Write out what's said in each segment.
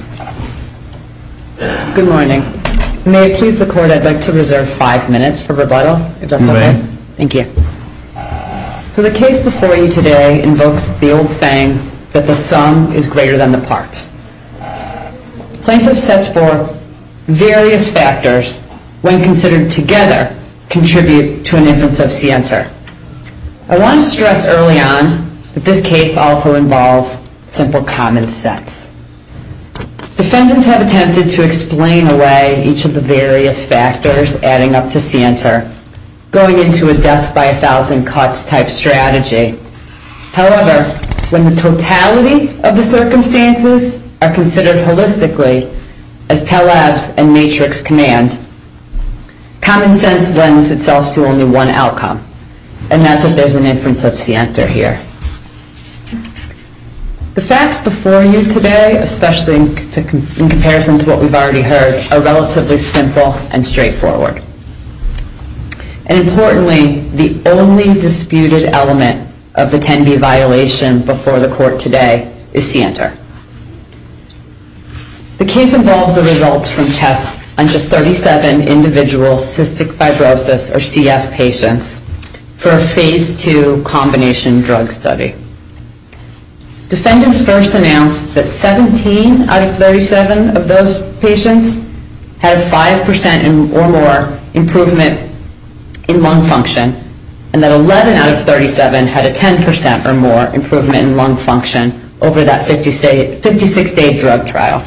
So the case before you today invokes the old saying that the sum is greater than the parts. Plaintiffs' sets for various factors, when considered together, contribute to an inference of scienter. I want to stress early on that this case also involves simple common sense. Defendants have attempted to explain away each of the various factors adding up to scienter, going into a death by a thousand cuts type strategy. However, when the totality of the circumstances are considered holistically as telebs and And that's if there's an inference of scienter here. The facts before you today, especially in comparison to what we've already heard, are relatively simple and straightforward. And importantly, the only disputed element of the 10B violation before the court today is scienter. The case involves the results from tests on just 37 individual Cystic Fibrosis or CF patients for a Phase II combination drug study. Defendants first announced that 17 out of 37 of those patients had a 5% or more improvement in lung function and that 11 out of 37 had a 10% or more improvement in lung function over that 56-day drug trial.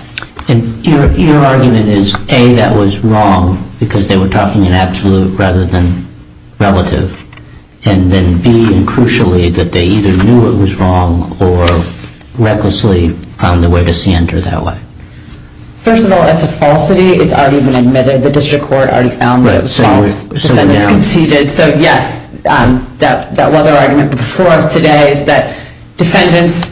And your argument is, A, that was wrong because they were talking in absolute rather than relative, and then B, and crucially, that they either knew it was wrong or recklessly found a way to scienter that way. First of all, as to falsity, it's already been admitted. The district court already found that it was false. Defendants conceded. So yes, that was our argument before us today, is that defendants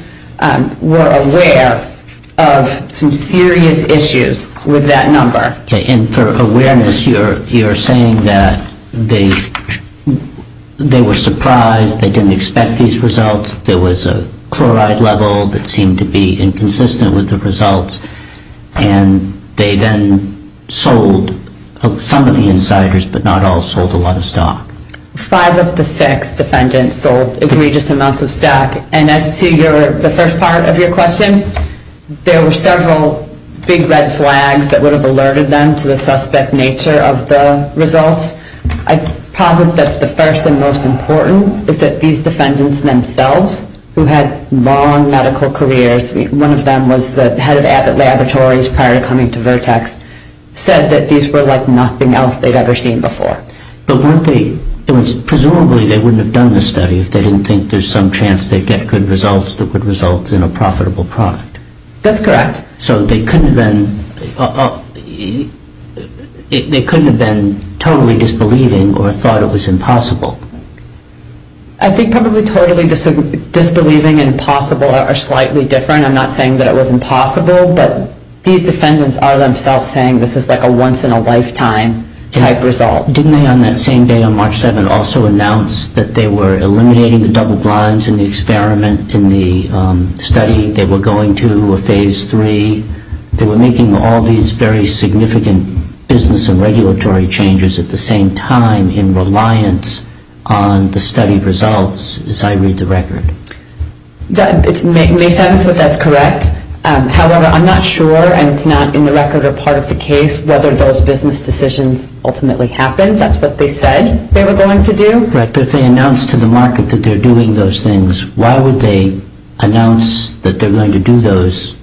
were aware of some serious issues with that number. And for awareness, you're saying that they were surprised, they didn't expect these results, there was a chloride level that seemed to be inconsistent with the results, and they then sold, some of the insiders but not all, sold a lot of stock? Five of the six defendants sold egregious amounts of stock. And as to the first part of your question, there were several big red flags that would have alerted them to the suspect nature of the results. I posit that the first and most important is that these defendants themselves, who had long medical careers, one of them was the head of Abbott Laboratories prior to coming to Vertex, said that these were like nothing else they'd ever seen before. But weren't they, presumably they wouldn't have done the study if they didn't think there's some chance they'd get good results that would result in a profitable product. That's correct. So they couldn't have been totally disbelieving or thought it was impossible? I think probably totally disbelieving and possible are slightly different. I'm not saying that it was impossible, but these defendants are themselves saying this is like a once in a lifetime type result. Didn't they on that same day on March 7 also announce that they were eliminating the double blinds in the experiment, in the study, they were going to a phase three, they were making all these very significant business and regulatory changes at the same time in reliance on the study results, as I read the record? May 7th, that's correct. However, I'm not sure, and it's not in the record or part of the case, whether those business decisions ultimately happened. That's what they said they were going to do. Correct. But if they announced to the market that they're doing those things, why would they announce that they're going to do those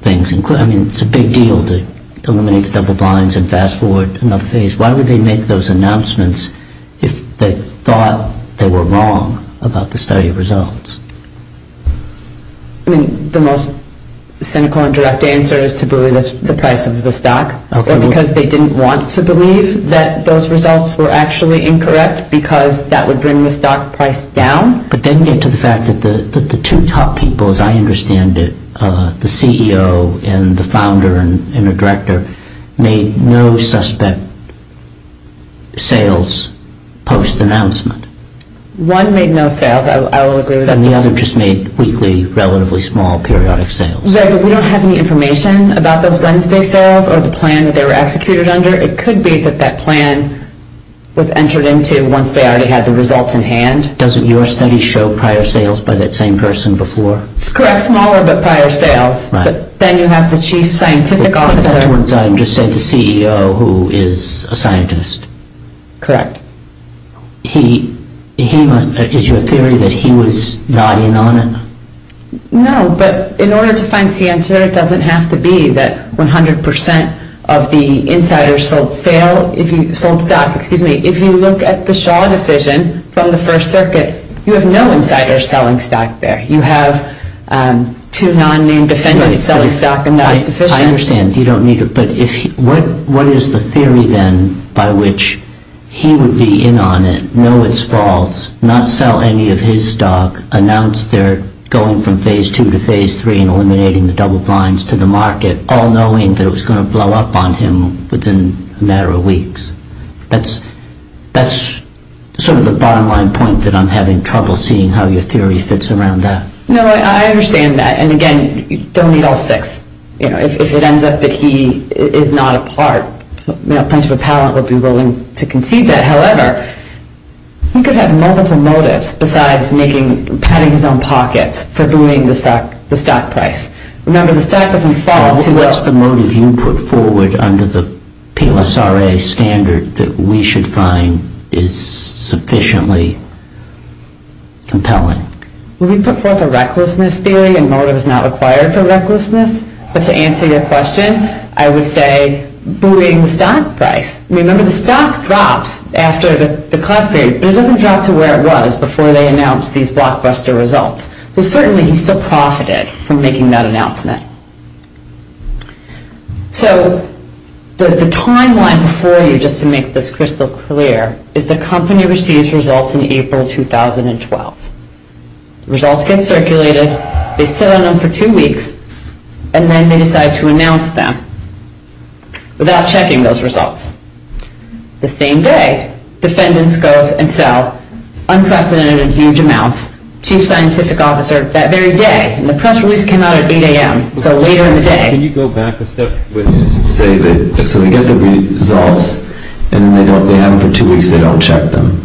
things? I mean, it's a big deal to eliminate the double blinds and fast forward another phase. Why would they make those announcements if they thought they were wrong about the study results? I mean, the most cynical and direct answer is to believe the price of the stock, because they didn't want to believe that those results were actually incorrect because that would bring the stock price down. But then get to the fact that the two top people, as I understand it, the CEO and the founder and the director, made no suspect sales post-announcement. One made no sales. I will agree with that. And the other just made weekly, relatively small, periodic sales. Right, but we don't have any information about those Wednesday sales or the plan that they were executed under. It could be that that plan was entered into once they already had the results in hand. Doesn't your study show prior sales by that same person before? It's correct. Smaller, but prior sales. Right. But then you have the chief scientific officer. Just say the CEO, who is a scientist. Correct. Is your theory that he was nodding on it? No, but in order to find CN2, it doesn't have to be that 100% of the insiders sold stock. Excuse me. If you look at the Shaw decision from the First Circuit, you have no insiders selling stock there. You have two non-named defendants selling stock, and that is sufficient. I understand. You don't need to. But what is the theory then by which he would be in on it, know it's false, not sell any of his stock, announce they're going from phase 2 to phase 3 and eliminating the double blinds to the market, all knowing that it was going to blow up on him within a matter of weeks? That's sort of the bottom line point that I'm having trouble seeing how your theory fits around that. No, I understand that. And again, don't eat all six. If it ends up that he is not a part, a bunch of appellant will be willing to concede that. However, he could have multiple motives besides having his own pockets for booing the stock price. Remember, the stock doesn't fall to us. What's the motive you put forward under the PLSRA standard that we should find is sufficiently compelling? Well, we put forth a recklessness theory, and motive is not required for recklessness. But to answer your question, I would say booing the stock price. Remember, the stock drops after the class period, but it doesn't drop to where it was before they announced these blockbuster results. So certainly he still profited from making that announcement. So the timeline before you, just to make this crystal clear, is the company receives results in April 2012. Results get circulated, they sit on them for two weeks, and then they decide to announce them without checking those results. The same day, defendants go and sell unprecedented huge amounts to a scientific officer that very day. And the press release came out at 8 a.m., so later in the day. Can you go back a step, so they get the results, and then they have them for two weeks, they don't check them.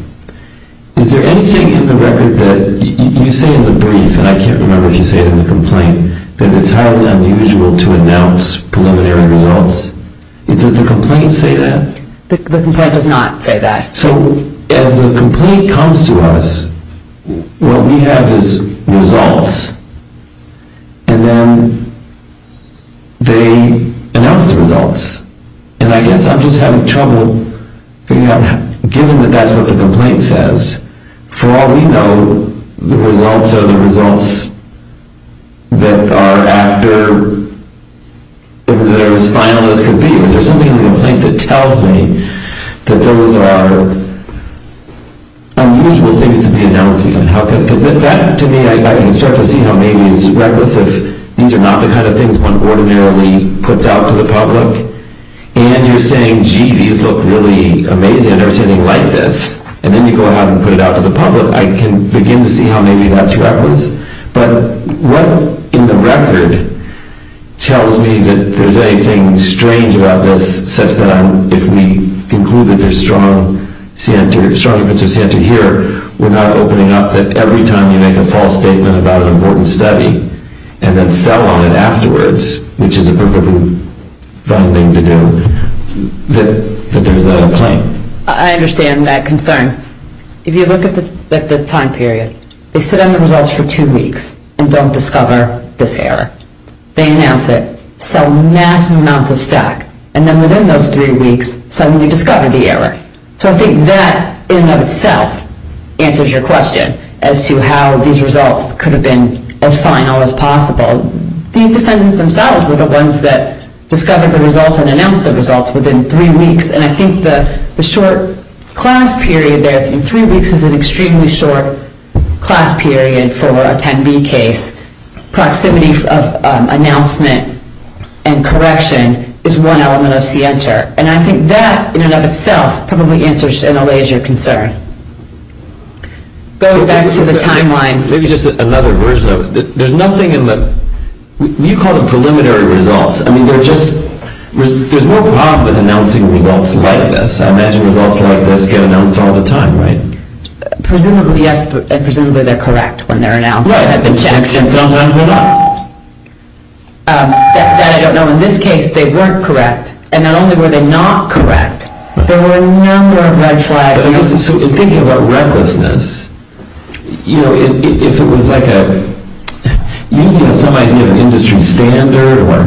Is there anything in the record that you say in the brief, and I can't remember if you say it in the complaint, that it's highly unusual to announce preliminary results? Does the complaint say that? The complaint does not say that. So as the complaint comes to us, what we have is results, and then they announce the results. And I guess I'm just having trouble figuring out, given that that's what the complaint says. For all we know, the results are the results that are after, that are as final as can be. Is there something in the complaint that tells me that those are unusual things to be announcing? Because that, to me, I can start to see how maybe it's reckless if these are not the kind of things one ordinarily puts out to the public. And you're saying, gee, these look really amazing, and they're sitting like this. And then you go ahead and put it out to the public. I can begin to see how maybe that's reckless. But what in the record tells me that there's anything strange about this, such that if we conclude that there's strong inputs of CN2 here, we're not opening up that every time you make a false statement about an important study, and then sell on it afterwards, which is a perfectly fine thing to do, that there's a claim. I understand that concern. If you look at the time period, they sit on the results for two weeks and don't discover this error. They announce it, sell massive amounts of stack, and then within those three weeks suddenly discover the error. So I think that in and of itself answers your question as to how these results could have been as final as possible. These defendants themselves were the ones that discovered the results and announced the results within three weeks. And I think the short class period there in three weeks is an extremely short class period for a 10B case. Proximity of announcement and correction is one element of CN2. And I think that in and of itself probably answers and allays your concern. Go back to the timeline. Maybe just another version of it. There's nothing in the... You call them preliminary results. There's no problem with announcing results like this. I imagine results like this get announced all the time, right? Presumably, yes. Presumably they're correct when they're announced. Right. And sometimes they're not. That I don't know. In this case, they weren't correct. And not only were they not correct, there were a number of red flags. So in thinking about recklessness, if it was like a... or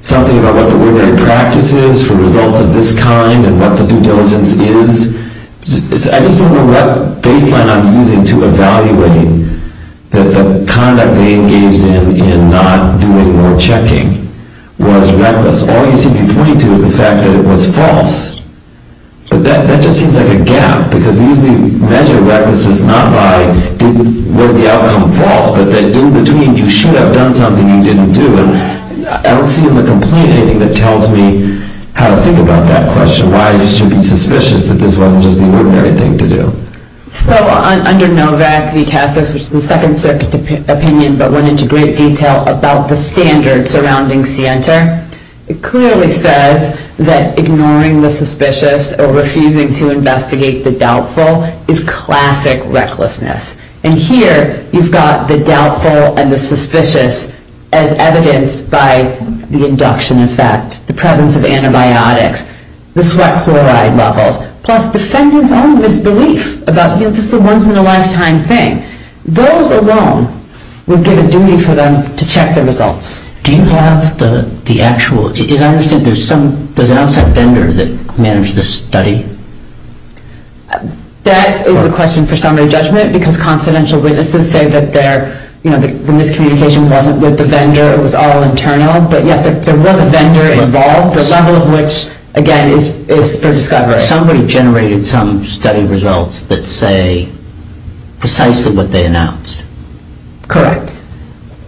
something about what the ordinary practice is for results of this kind and what the due diligence is, I just don't know what baseline I'm using to evaluate that the conduct they engaged in in not doing or checking was reckless. All you seem to be pointing to is the fact that it was false. But that just seems like a gap because we usually measure recklessness not by was the outcome false but that in between you should have done something you didn't do. And I don't see in the complaint anything that tells me how to think about that question. Why should you be suspicious that this wasn't just the ordinary thing to do? So under NOVAC v. CASAS, which is the Second Circuit opinion but went into great detail about the standards surrounding CENTER, it clearly says that ignoring the suspicious or refusing to investigate the doubtful is classic recklessness. And here you've got the doubtful and the suspicious as evidenced by the induction effect, the presence of antibiotics, the sweat chloride levels, plus defendant's own misbelief about this is a once-in-a-lifetime thing. Those alone would give a duty for them to check the results. Do you have the actual... As I understand, there's an outside vendor that managed this study? That is a question for summary judgment because confidential witnesses say that the miscommunication wasn't with the vendor, it was all internal. But, yes, there was a vendor involved, the level of which, again, is for discovery. Somebody generated some study results that say precisely what they announced. Correct.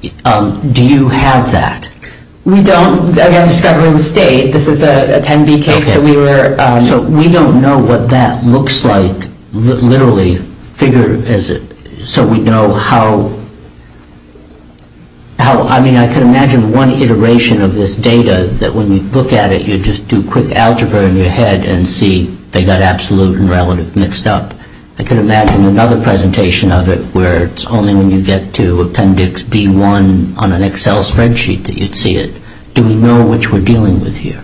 Do you have that? We don't, again, discovering the state. This is a 10-B case that we were... So we don't know what that looks like, literally, so we know how... I mean, I can imagine one iteration of this data that when you look at it, you just do quick algebra in your head and see they got absolute and relative mixed up. I can imagine another presentation of it where it's only when you get to appendix B1 on an Excel spreadsheet that you'd see it. Do we know which we're dealing with here?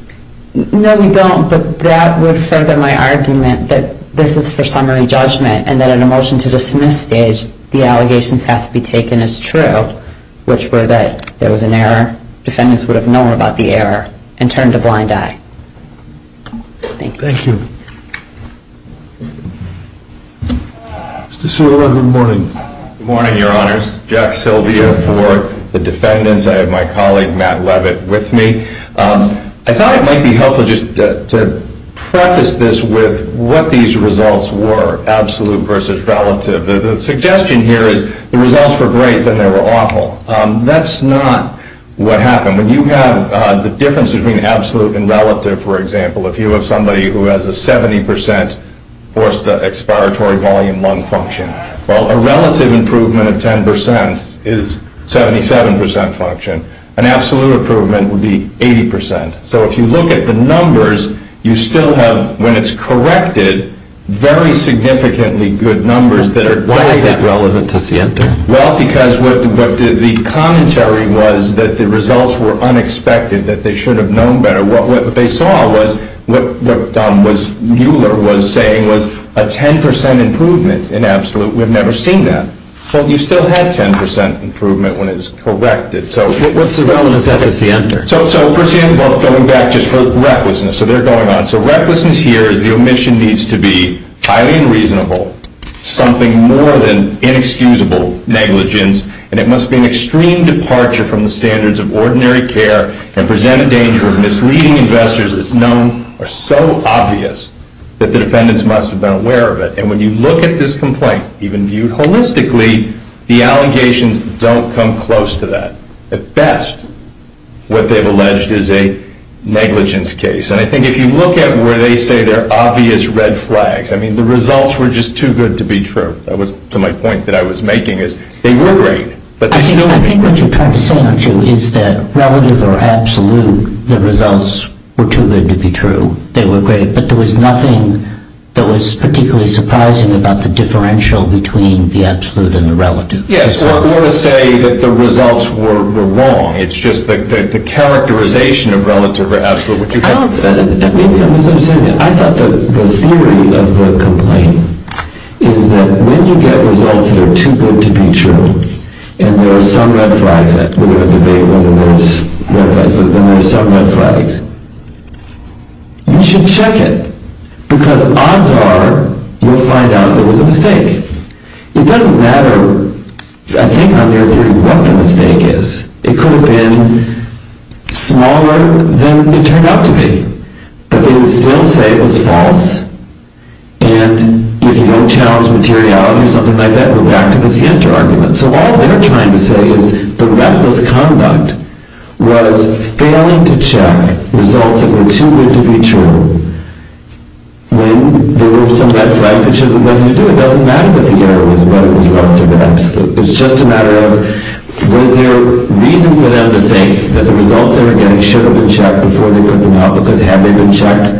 No, we don't, but that would further my argument that this is for summary judgment and that in a motion to dismiss stage, the allegations have to be taken as true, which were that there was an error, defendants would have known about the error and turned a blind eye. Thank you. Thank you. Mr. Silva, good morning. Good morning, Your Honors. Jack Silva for the defendants. I have my colleague, Matt Levitt, with me. I thought it might be helpful just to preface this with what these results were, absolute versus relative. The suggestion here is the results were great, then they were awful. That's not what happened. When you have the difference between absolute and relative, for example, if you have somebody who has a 70% forced expiratory volume lung function, well, a relative improvement of 10% is 77% function. An absolute improvement would be 80%. So if you look at the numbers, you still have, when it's corrected, very significantly good numbers that are great. Why is that relevant to see it there? Well, because the commentary was that the results were unexpected, that they should have known better. What they saw was what Mueller was saying was a 10% improvement in absolute. We've never seen that. Well, you still have 10% improvement when it's corrected. So what's the relevance of it to see it there? So for example, going back just for recklessness, so they're going on. So recklessness here is the omission needs to be highly unreasonable, something more than inexcusable negligence, and it must be an extreme departure from the standards of ordinary care and present a danger of misleading investors that are so obvious that the defendants must have been aware of it. And when you look at this complaint, even viewed holistically, the allegations don't come close to that. At best, what they've alleged is a negligence case. And I think if you look at where they say there are obvious red flags, I mean, the results were just too good to be true. That was to my point that I was making is they were great, but they still were. Well, I think what you're trying to say, aren't you, is that relative or absolute, the results were too good to be true. They were great, but there was nothing that was particularly surprising about the differential between the absolute and the relative. Yes, so I'm going to say that the results were wrong. It's just that the characterization of relative or absolute, which you can't... I thought that the theory of the complaint is that when you get results that are too good to be true and there are some red flags that we're going to debate, when there are some red flags, you should check it. Because odds are you'll find out it was a mistake. It doesn't matter, I think, on their theory what the mistake is. It could have been smaller than it turned out to be. But they would still say it was false. And if you don't challenge materiality or something like that, then you go back to the Sienta argument. So all they're trying to say is the reckless conduct was failing to check results that were too good to be true. When there were some red flags, it should have been nothing to do with it. It doesn't matter what the error was, whether it was relative or absolute. It's just a matter of, was there reason for them to think that the results they were getting should have been checked before they put them out? Because had they been checked,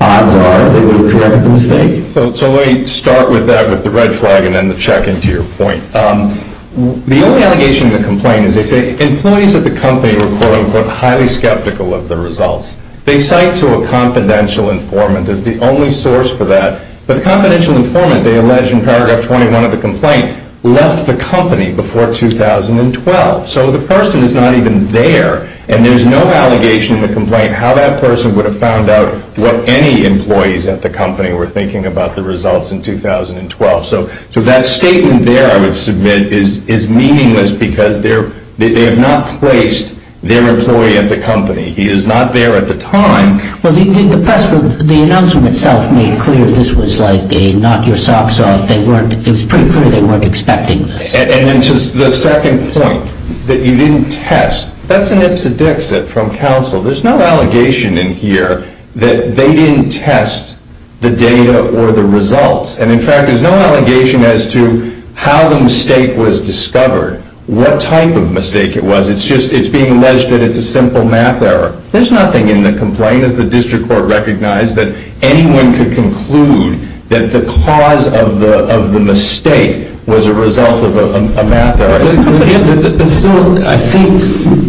odds are they would have corrected the mistake. So let me start with that, with the red flag, and then the check in to your point. The only allegation in the complaint is they say employees at the company were, quote, unquote, highly skeptical of the results. They cite to a confidential informant as the only source for that. But the confidential informant, they allege in paragraph 21 of the complaint, left the company before 2012. So the person is not even there, and there's no allegation in the complaint how that person would have found out what any employees at the company were thinking about the results in 2012. So that statement there, I would submit, is meaningless because they have not placed their employee at the company. He is not there at the time. Well, the announcement itself made clear this was like a knock-your-socks-off. It was pretty clear they weren't expecting this. And then just the second point, that you didn't test. That's an ipsedixit from counsel. There's no allegation in here that they didn't test the data or the results. And, in fact, there's no allegation as to how the mistake was discovered, what type of mistake it was. It's just it's being alleged that it's a simple math error. There's nothing in the complaint, as the district court recognized, that anyone could conclude that the cause of the mistake was a result of a math error. I think,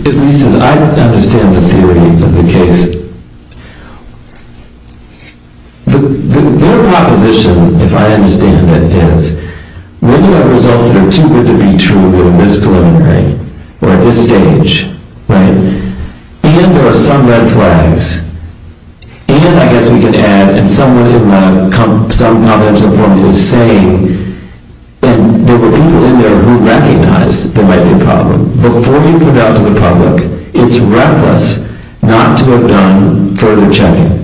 at least as I understand the theory of the case, their proposition, if I understand it, is when you have results that are too good to be true in this preliminary, or at this stage, and there are some red flags, and, I guess we can add, and someone in the company is saying that there were people in there who recognized there might be a problem. Before you put it out to the public, it's reckless not to have done further checking.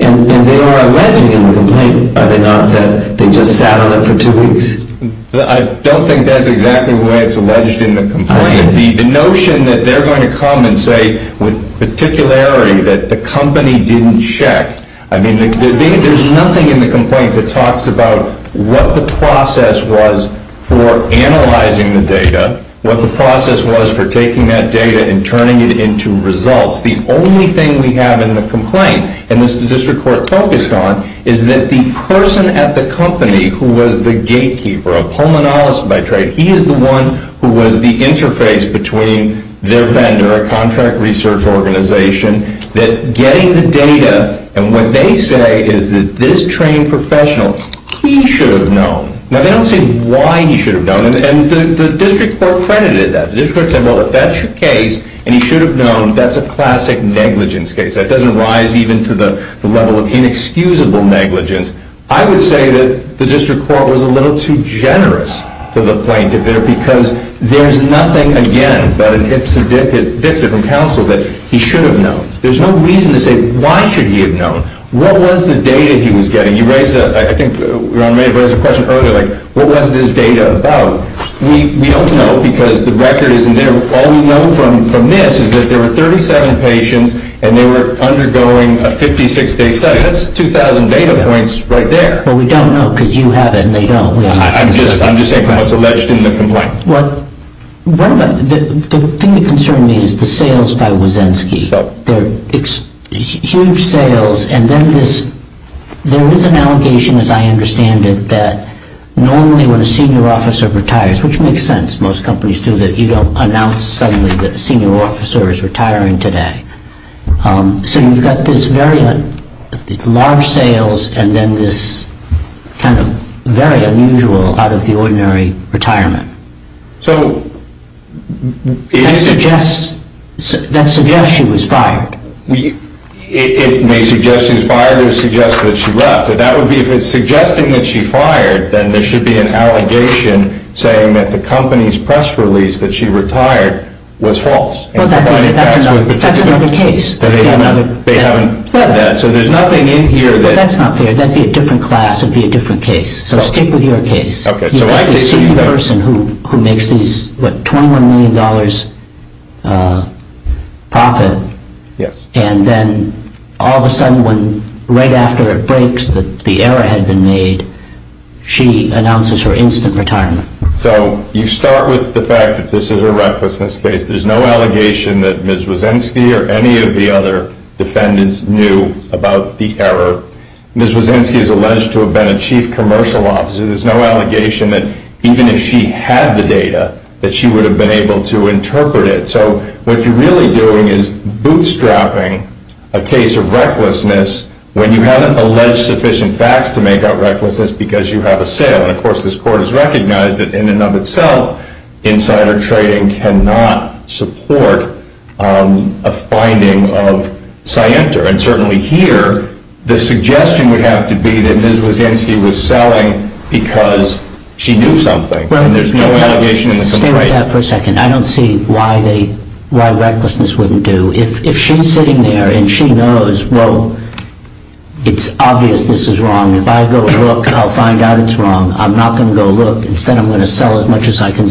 And they are alleging in the complaint, are they not, that they just sat on it for two weeks? I don't think that's exactly the way it's alleged in the complaint. The notion that they're going to come and say, with particularity, that the company didn't check. I mean, there's nothing in the complaint that talks about what the process was for analyzing the data, what the process was for taking that data and turning it into results. The only thing we have in the complaint, and the district court focused on, is that the person at the company who was the gatekeeper, a pulmonologist by trade, he is the one who was the interface between their vendor, a contract research organization, that getting the data, and what they say is that this trained professional, he should have known. Now, they don't say why he should have known, and the district court credited that. The district court said, well, if that's your case, and he should have known, that's a classic negligence case. That doesn't rise even to the level of inexcusable negligence. I would say that the district court was a little too generous to the plaintiff there, because there's nothing, again, about an Ipsodixib from counsel that he should have known. There's no reason to say, why should he have known? What was the data he was getting? You raised a question earlier, like, what was this data about? We don't know, because the record isn't there. All we know from this is that there were 37 patients, and they were undergoing a 56-day study. That's 2,000 data points right there. But we don't know, because you have it, and they don't. I'm just saying from what's alleged in the complaint. The thing that concerns me is the sales by Wazensky. They're huge sales, and then there is an allegation, as I understand it, that normally when a senior officer retires, which makes sense. Most companies do that. You don't announce suddenly that a senior officer is retiring today. So you've got this very large sales and then this kind of very unusual out-of-the-ordinary retirement. So that suggests she was fired. It may suggest she was fired or suggest that she left, but that would be if it's suggesting that she fired, then there should be an allegation saying that the company's press release that she retired was false. Well, that's another case. They haven't said that. So there's nothing in here that... Well, that's not fair. That would be a different class. It would be a different case. So stick with your case. You've got this senior person who makes these, what, $21 million profit, and then all of a sudden, right after it breaks that the error had been made, she announces her instant retirement. So you start with the fact that this is a recklessness case. There's no allegation that Ms. Wysenski or any of the other defendants knew about the error. Ms. Wysenski is alleged to have been a chief commercial officer. There's no allegation that even if she had the data that she would have been able to interpret it. So what you're really doing is bootstrapping a case of recklessness when you haven't alleged sufficient facts to make out recklessness because you have a sale. And, of course, this court has recognized that in and of itself, insider trading cannot support a finding of scienter. And certainly here, the suggestion would have to be that Ms. Wysenski was selling because she knew something. And there's no allegation in this case. Stay with that for a second. I don't see why recklessness wouldn't do. If she's sitting there and she knows, well, it's obvious this is wrong. And if I go look, I'll find out it's wrong. I'm not going to go look. Instead, I'm going to sell as much as I can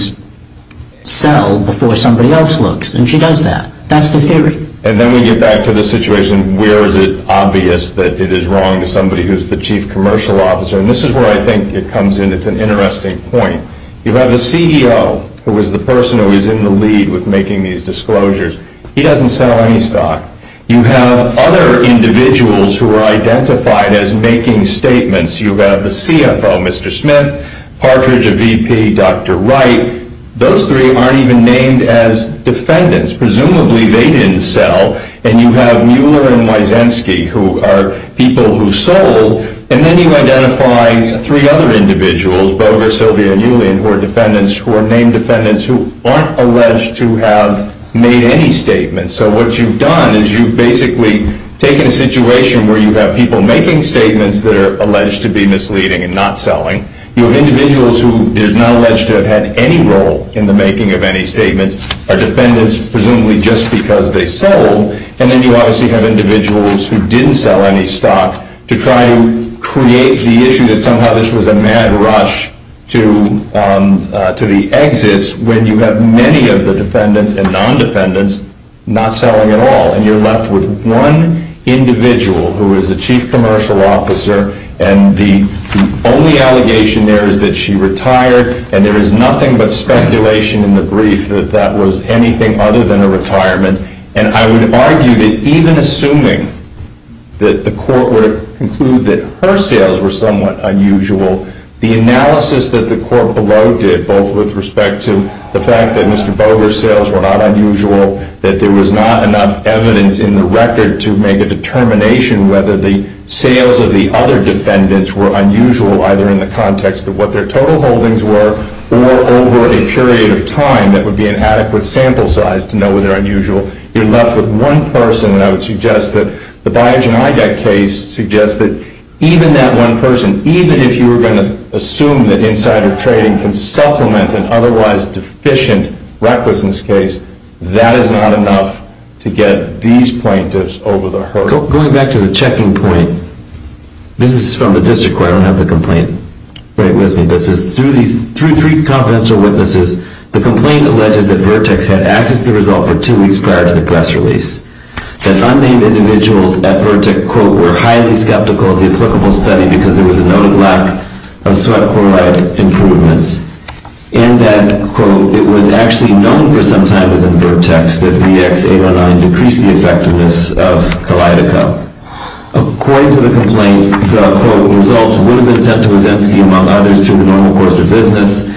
sell before somebody else looks. And she does that. That's the theory. And then we get back to the situation where is it obvious that it is wrong to somebody who is the chief commercial officer. And this is where I think it comes in. It's an interesting point. You have the CEO who is the person who is in the lead with making these disclosures. He doesn't sell any stock. You have other individuals who are identified as making statements. You have the CFO, Mr. Smith, Partridge, a VP, Dr. Wright. Those three aren't even named as defendants. Presumably, they didn't sell. And you have Mueller and Wysenski who are people who sold. And then you identify three other individuals, Boger, Sylvia, and Julian, who are defendants, who are named defendants who aren't alleged to have made any statements. So what you've done is you've basically taken a situation where you have people making statements that are alleged to be misleading and not selling. You have individuals who are not alleged to have had any role in the making of any statements, are defendants, presumably just because they sold. And then you obviously have individuals who didn't sell any stock to try and create the issue that somehow this was a mad rush to the exits when you have many of the defendants and non-defendants not selling at all. And you're left with one individual who is a chief commercial officer, and the only allegation there is that she retired, and there is nothing but speculation in the brief that that was anything other than a retirement. And I would argue that even assuming that the court would conclude that her sales were somewhat unusual, the analysis that the court below did, both with respect to the fact that Mr. Boger's sales were not unusual, that there was not enough evidence in the record to make a determination whether the sales of the other defendants were unusual, either in the context of what their total holdings were, or over a period of time that would be an adequate sample size to know whether unusual. You're left with one person, and I would suggest that the Biogen Idec case suggests that even that one person, even if you were going to assume that insider trading can supplement an otherwise deficient recklessness case, that is not enough to get these plaintiffs over the hurdle. Going back to the checking point, this is from the district court. I don't have the complaint right with me, but it says, Through three confidential witnesses, the complaint alleges that Vertex had accessed the result for two weeks prior to the press release. That unnamed individuals at Vertex, quote, were highly skeptical of the applicable study because there was a noted lack of sweat chloride improvements. And that, quote, it was actually known for some time within Vertex that VX809 decreased the effectiveness of Kalydeca. According to the complaint, the, quote, results would have been sent to Wazensky, among others, through the normal course of business.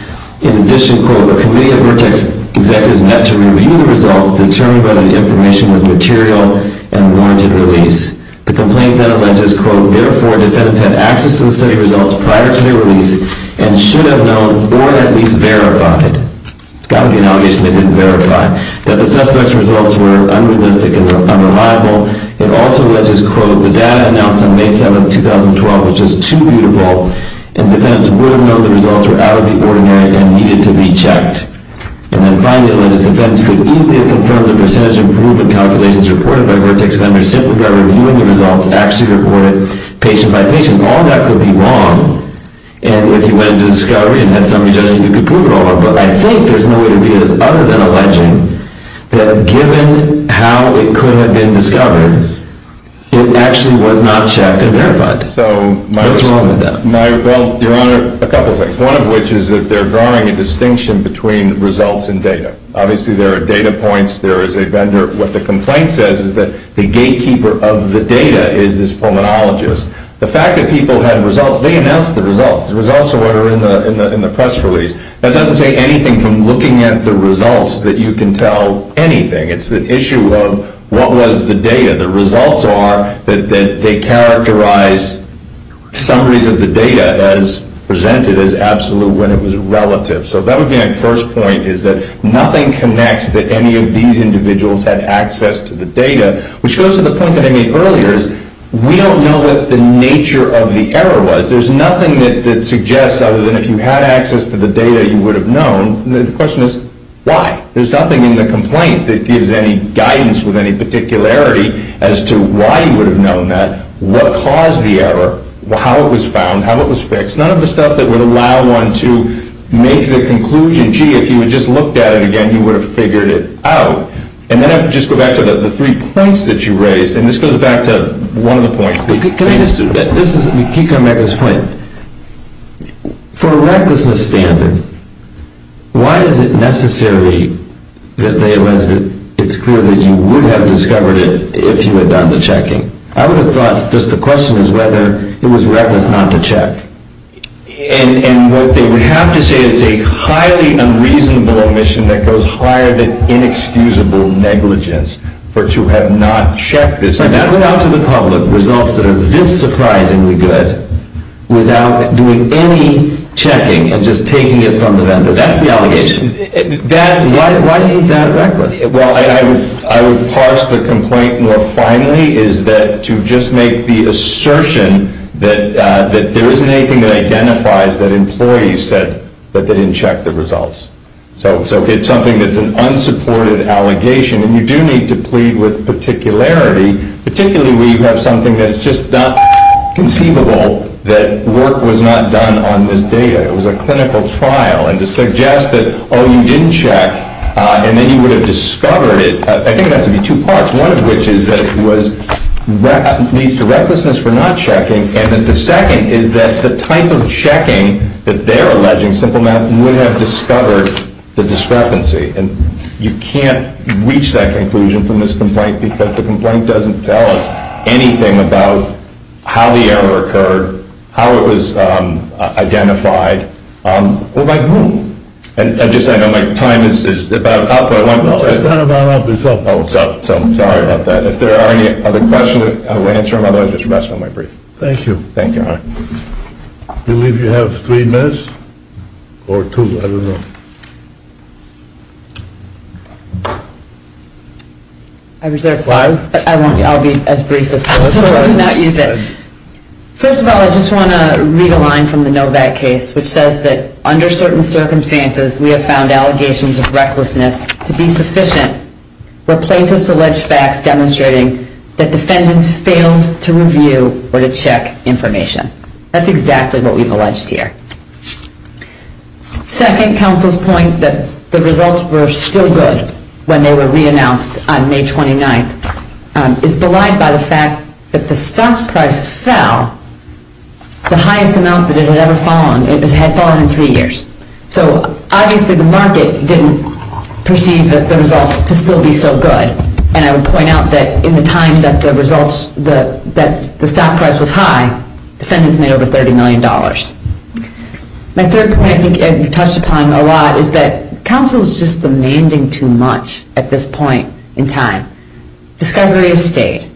In addition, quote, the committee of Vertex executives met to review the results determined by the information as material and warranted release. The complaint then alleges, quote, therefore defendants had access to the study results prior to their release and should have known or at least verified, it's got to be an allegation they didn't verify, that the suspects' results were unrealistic and unreliable. It also alleges, quote, the data announced on May 7, 2012 was just too beautiful and defendants would have known the results were out of the ordinary and needed to be checked. And then finally, it alleges defendants could easily have confirmed the percentage improvement calculations reported by Vertex vendors simply by reviewing the results actually reported patient by patient. All that could be wrong. And if you went into discovery and had somebody do it, you could prove it all. But I think there's no way to do this other than alleging that given how it could have been discovered, it actually was not checked and verified. What's wrong with that? Well, Your Honor, a couple of things. One of which is that they're drawing a distinction between results and data. Obviously there are data points. There is a vendor. What the complaint says is that the gatekeeper of the data is this pulmonologist. The fact that people had results, they announced the results. The results were in the press release. That doesn't say anything from looking at the results that you can tell anything. It's the issue of what was the data. The results are that they characterized summaries of the data as presented as absolute when it was relative. So that would be my first point is that nothing connects that any of these individuals had access to the data, which goes to the point that I made earlier is we don't know what the nature of the error was. There's nothing that suggests other than if you had access to the data, you would have known. The question is why? There's nothing in the complaint that gives any guidance with any particularity as to why you would have known that, what caused the error, how it was found, how it was fixed. None of the stuff that would allow one to make the conclusion, gee, if you had just looked at it again, you would have figured it out. And then I would just go back to the three points that you raised, and this goes back to one of the points. You keep coming back to this point. For a recklessness standard, why is it necessary that it's clear that you would have discovered it if you had done the checking? I would have thought just the question is whether it was reckless not to check. And what they would have to say is a highly unreasonable omission that goes higher than inexcusable negligence for to have not checked this. To put out to the public results that are this surprisingly good without doing any checking and just taking it from the vendor, that's the allegation. Why is that reckless? Well, I would parse the complaint more finely is that to just make the assertion that there isn't anything that identifies that employees said that they didn't check the results. So it's something that's an unsupported allegation, and you do need to plead with particularity, particularly when you have something that's just not conceivable that work was not done on this data. It was a clinical trial, and to suggest that, oh, you didn't check, and then you would have discovered it, I think it has to be two parts. One of which is that it needs to recklessness for not checking, and that the second is that the type of checking that they're alleging, simple math, would have discovered the discrepancy. And you can't reach that conclusion from this complaint because the complaint doesn't tell us anything about how the error occurred, how it was identified, or by whom. And just, I know my time is about up. No, it's not about up, it's up. Oh, it's up. Sorry about that. If there are any other questions, I will answer them. Otherwise, just rest on my brief. Thank you. Thank you, Your Honor. I believe you have three minutes, or two, I don't know. I reserve five, but I'll be as brief as possible and not use it. First of all, I just want to read a line from the Novak case, which says that, under certain circumstances, we have found allegations of recklessness to be sufficient, where plaintiffs allege facts demonstrating that defendants failed to review or to check information. That's exactly what we've alleged here. Second, counsel's point that the results were still good when they were reannounced on May 29th is belied by the fact that the stock price fell the highest amount that it had ever fallen. It had fallen in three years. So, obviously, the market didn't perceive the results to still be so good. And I would point out that in the time that the results, that the stock price was high, defendants made over $30 million. My third point, I think you touched upon a lot, is that counsel is just demanding too much at this point in time. Discovery has stayed.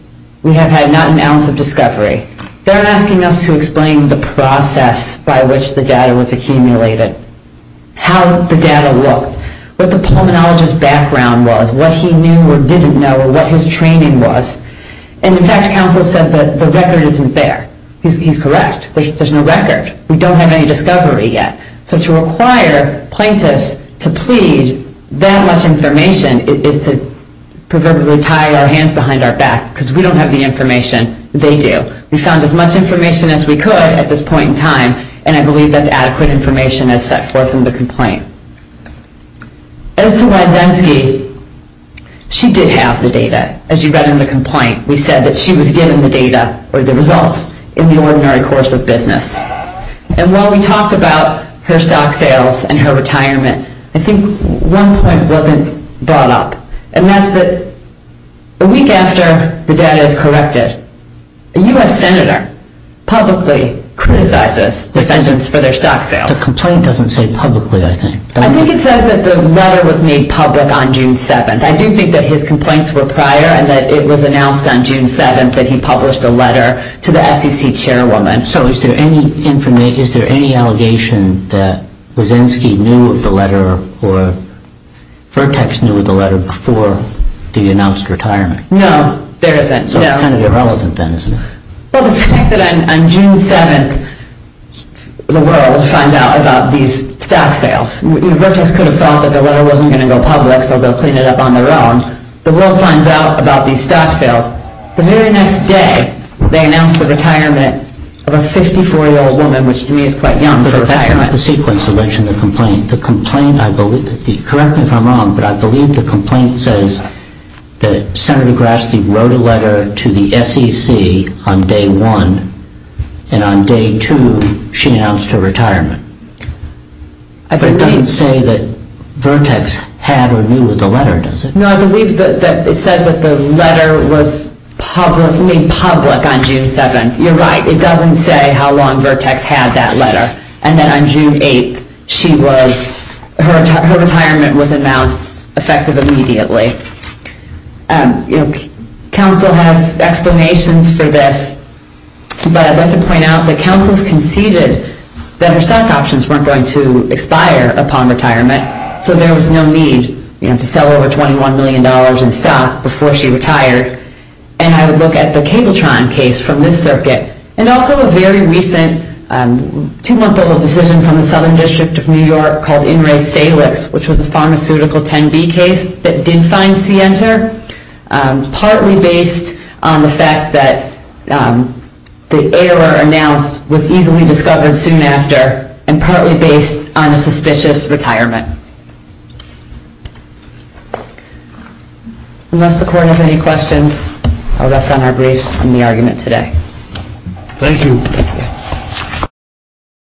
We have had not an ounce of discovery. They're asking us to explain the process by which the data was accumulated, how the data looked, what the pulmonologist's background was, what he knew or didn't know, what his training was. And, in fact, counsel said that the record isn't there. He's correct. There's no record. We don't have any discovery yet. So to require plaintiffs to plead that much information is to proverbially tie our hands behind our back, because we don't have any information. They do. We found as much information as we could at this point in time, and I believe that's adequate information as set forth in the complaint. As to Wysensky, she did have the data. As you read in the complaint, we said that she was given the data or the results in the ordinary course of business. And while we talked about her stock sales and her retirement, I think one point wasn't brought up, and that's that a week after the data is corrected, a U.S. senator publicly criticizes defendants for their stock sales. The complaint doesn't say publicly, I think. I think it says that the letter was made public on June 7th. I do think that his complaints were prior and that it was announced on June 7th that he published a letter to the SEC chairwoman. So is there any allegation that Wysensky knew of the letter or Vertex knew of the letter before the announced retirement? No, there isn't. So it's kind of irrelevant then, isn't it? Well, the fact that on June 7th, the world finds out about these stock sales. Vertex could have thought that the letter wasn't going to go public, so they'll clean it up on their own. The world finds out about these stock sales. The very next day, they announce the retirement of a 54-year-old woman, which to me is quite young for a retirement. But that's not the sequence to mention the complaint. Correct me if I'm wrong, but I believe the complaint says that Senator Grassley wrote a letter to the SEC on day one. And on day two, she announced her retirement. But it doesn't say that Vertex had or knew of the letter, does it? No, I believe that it says that the letter was made public on June 7th. You're right. And then on June 8th, her retirement was announced effective immediately. Council has explanations for this, but I'd like to point out that Council has conceded that her stock options weren't going to expire upon retirement. So there was no need to sell over $21 million in stock before she retired. And I would look at the Cabletron case from this circuit. And also a very recent two-month-old decision from the Southern District of New York called In Re Salix, which was a pharmaceutical 10B case that did find C-enter, partly based on the fact that the error announced was easily discovered soon after, and partly based on a suspicious retirement. Unless the court has any questions, I'll rest on our brief in the argument today. Thank you.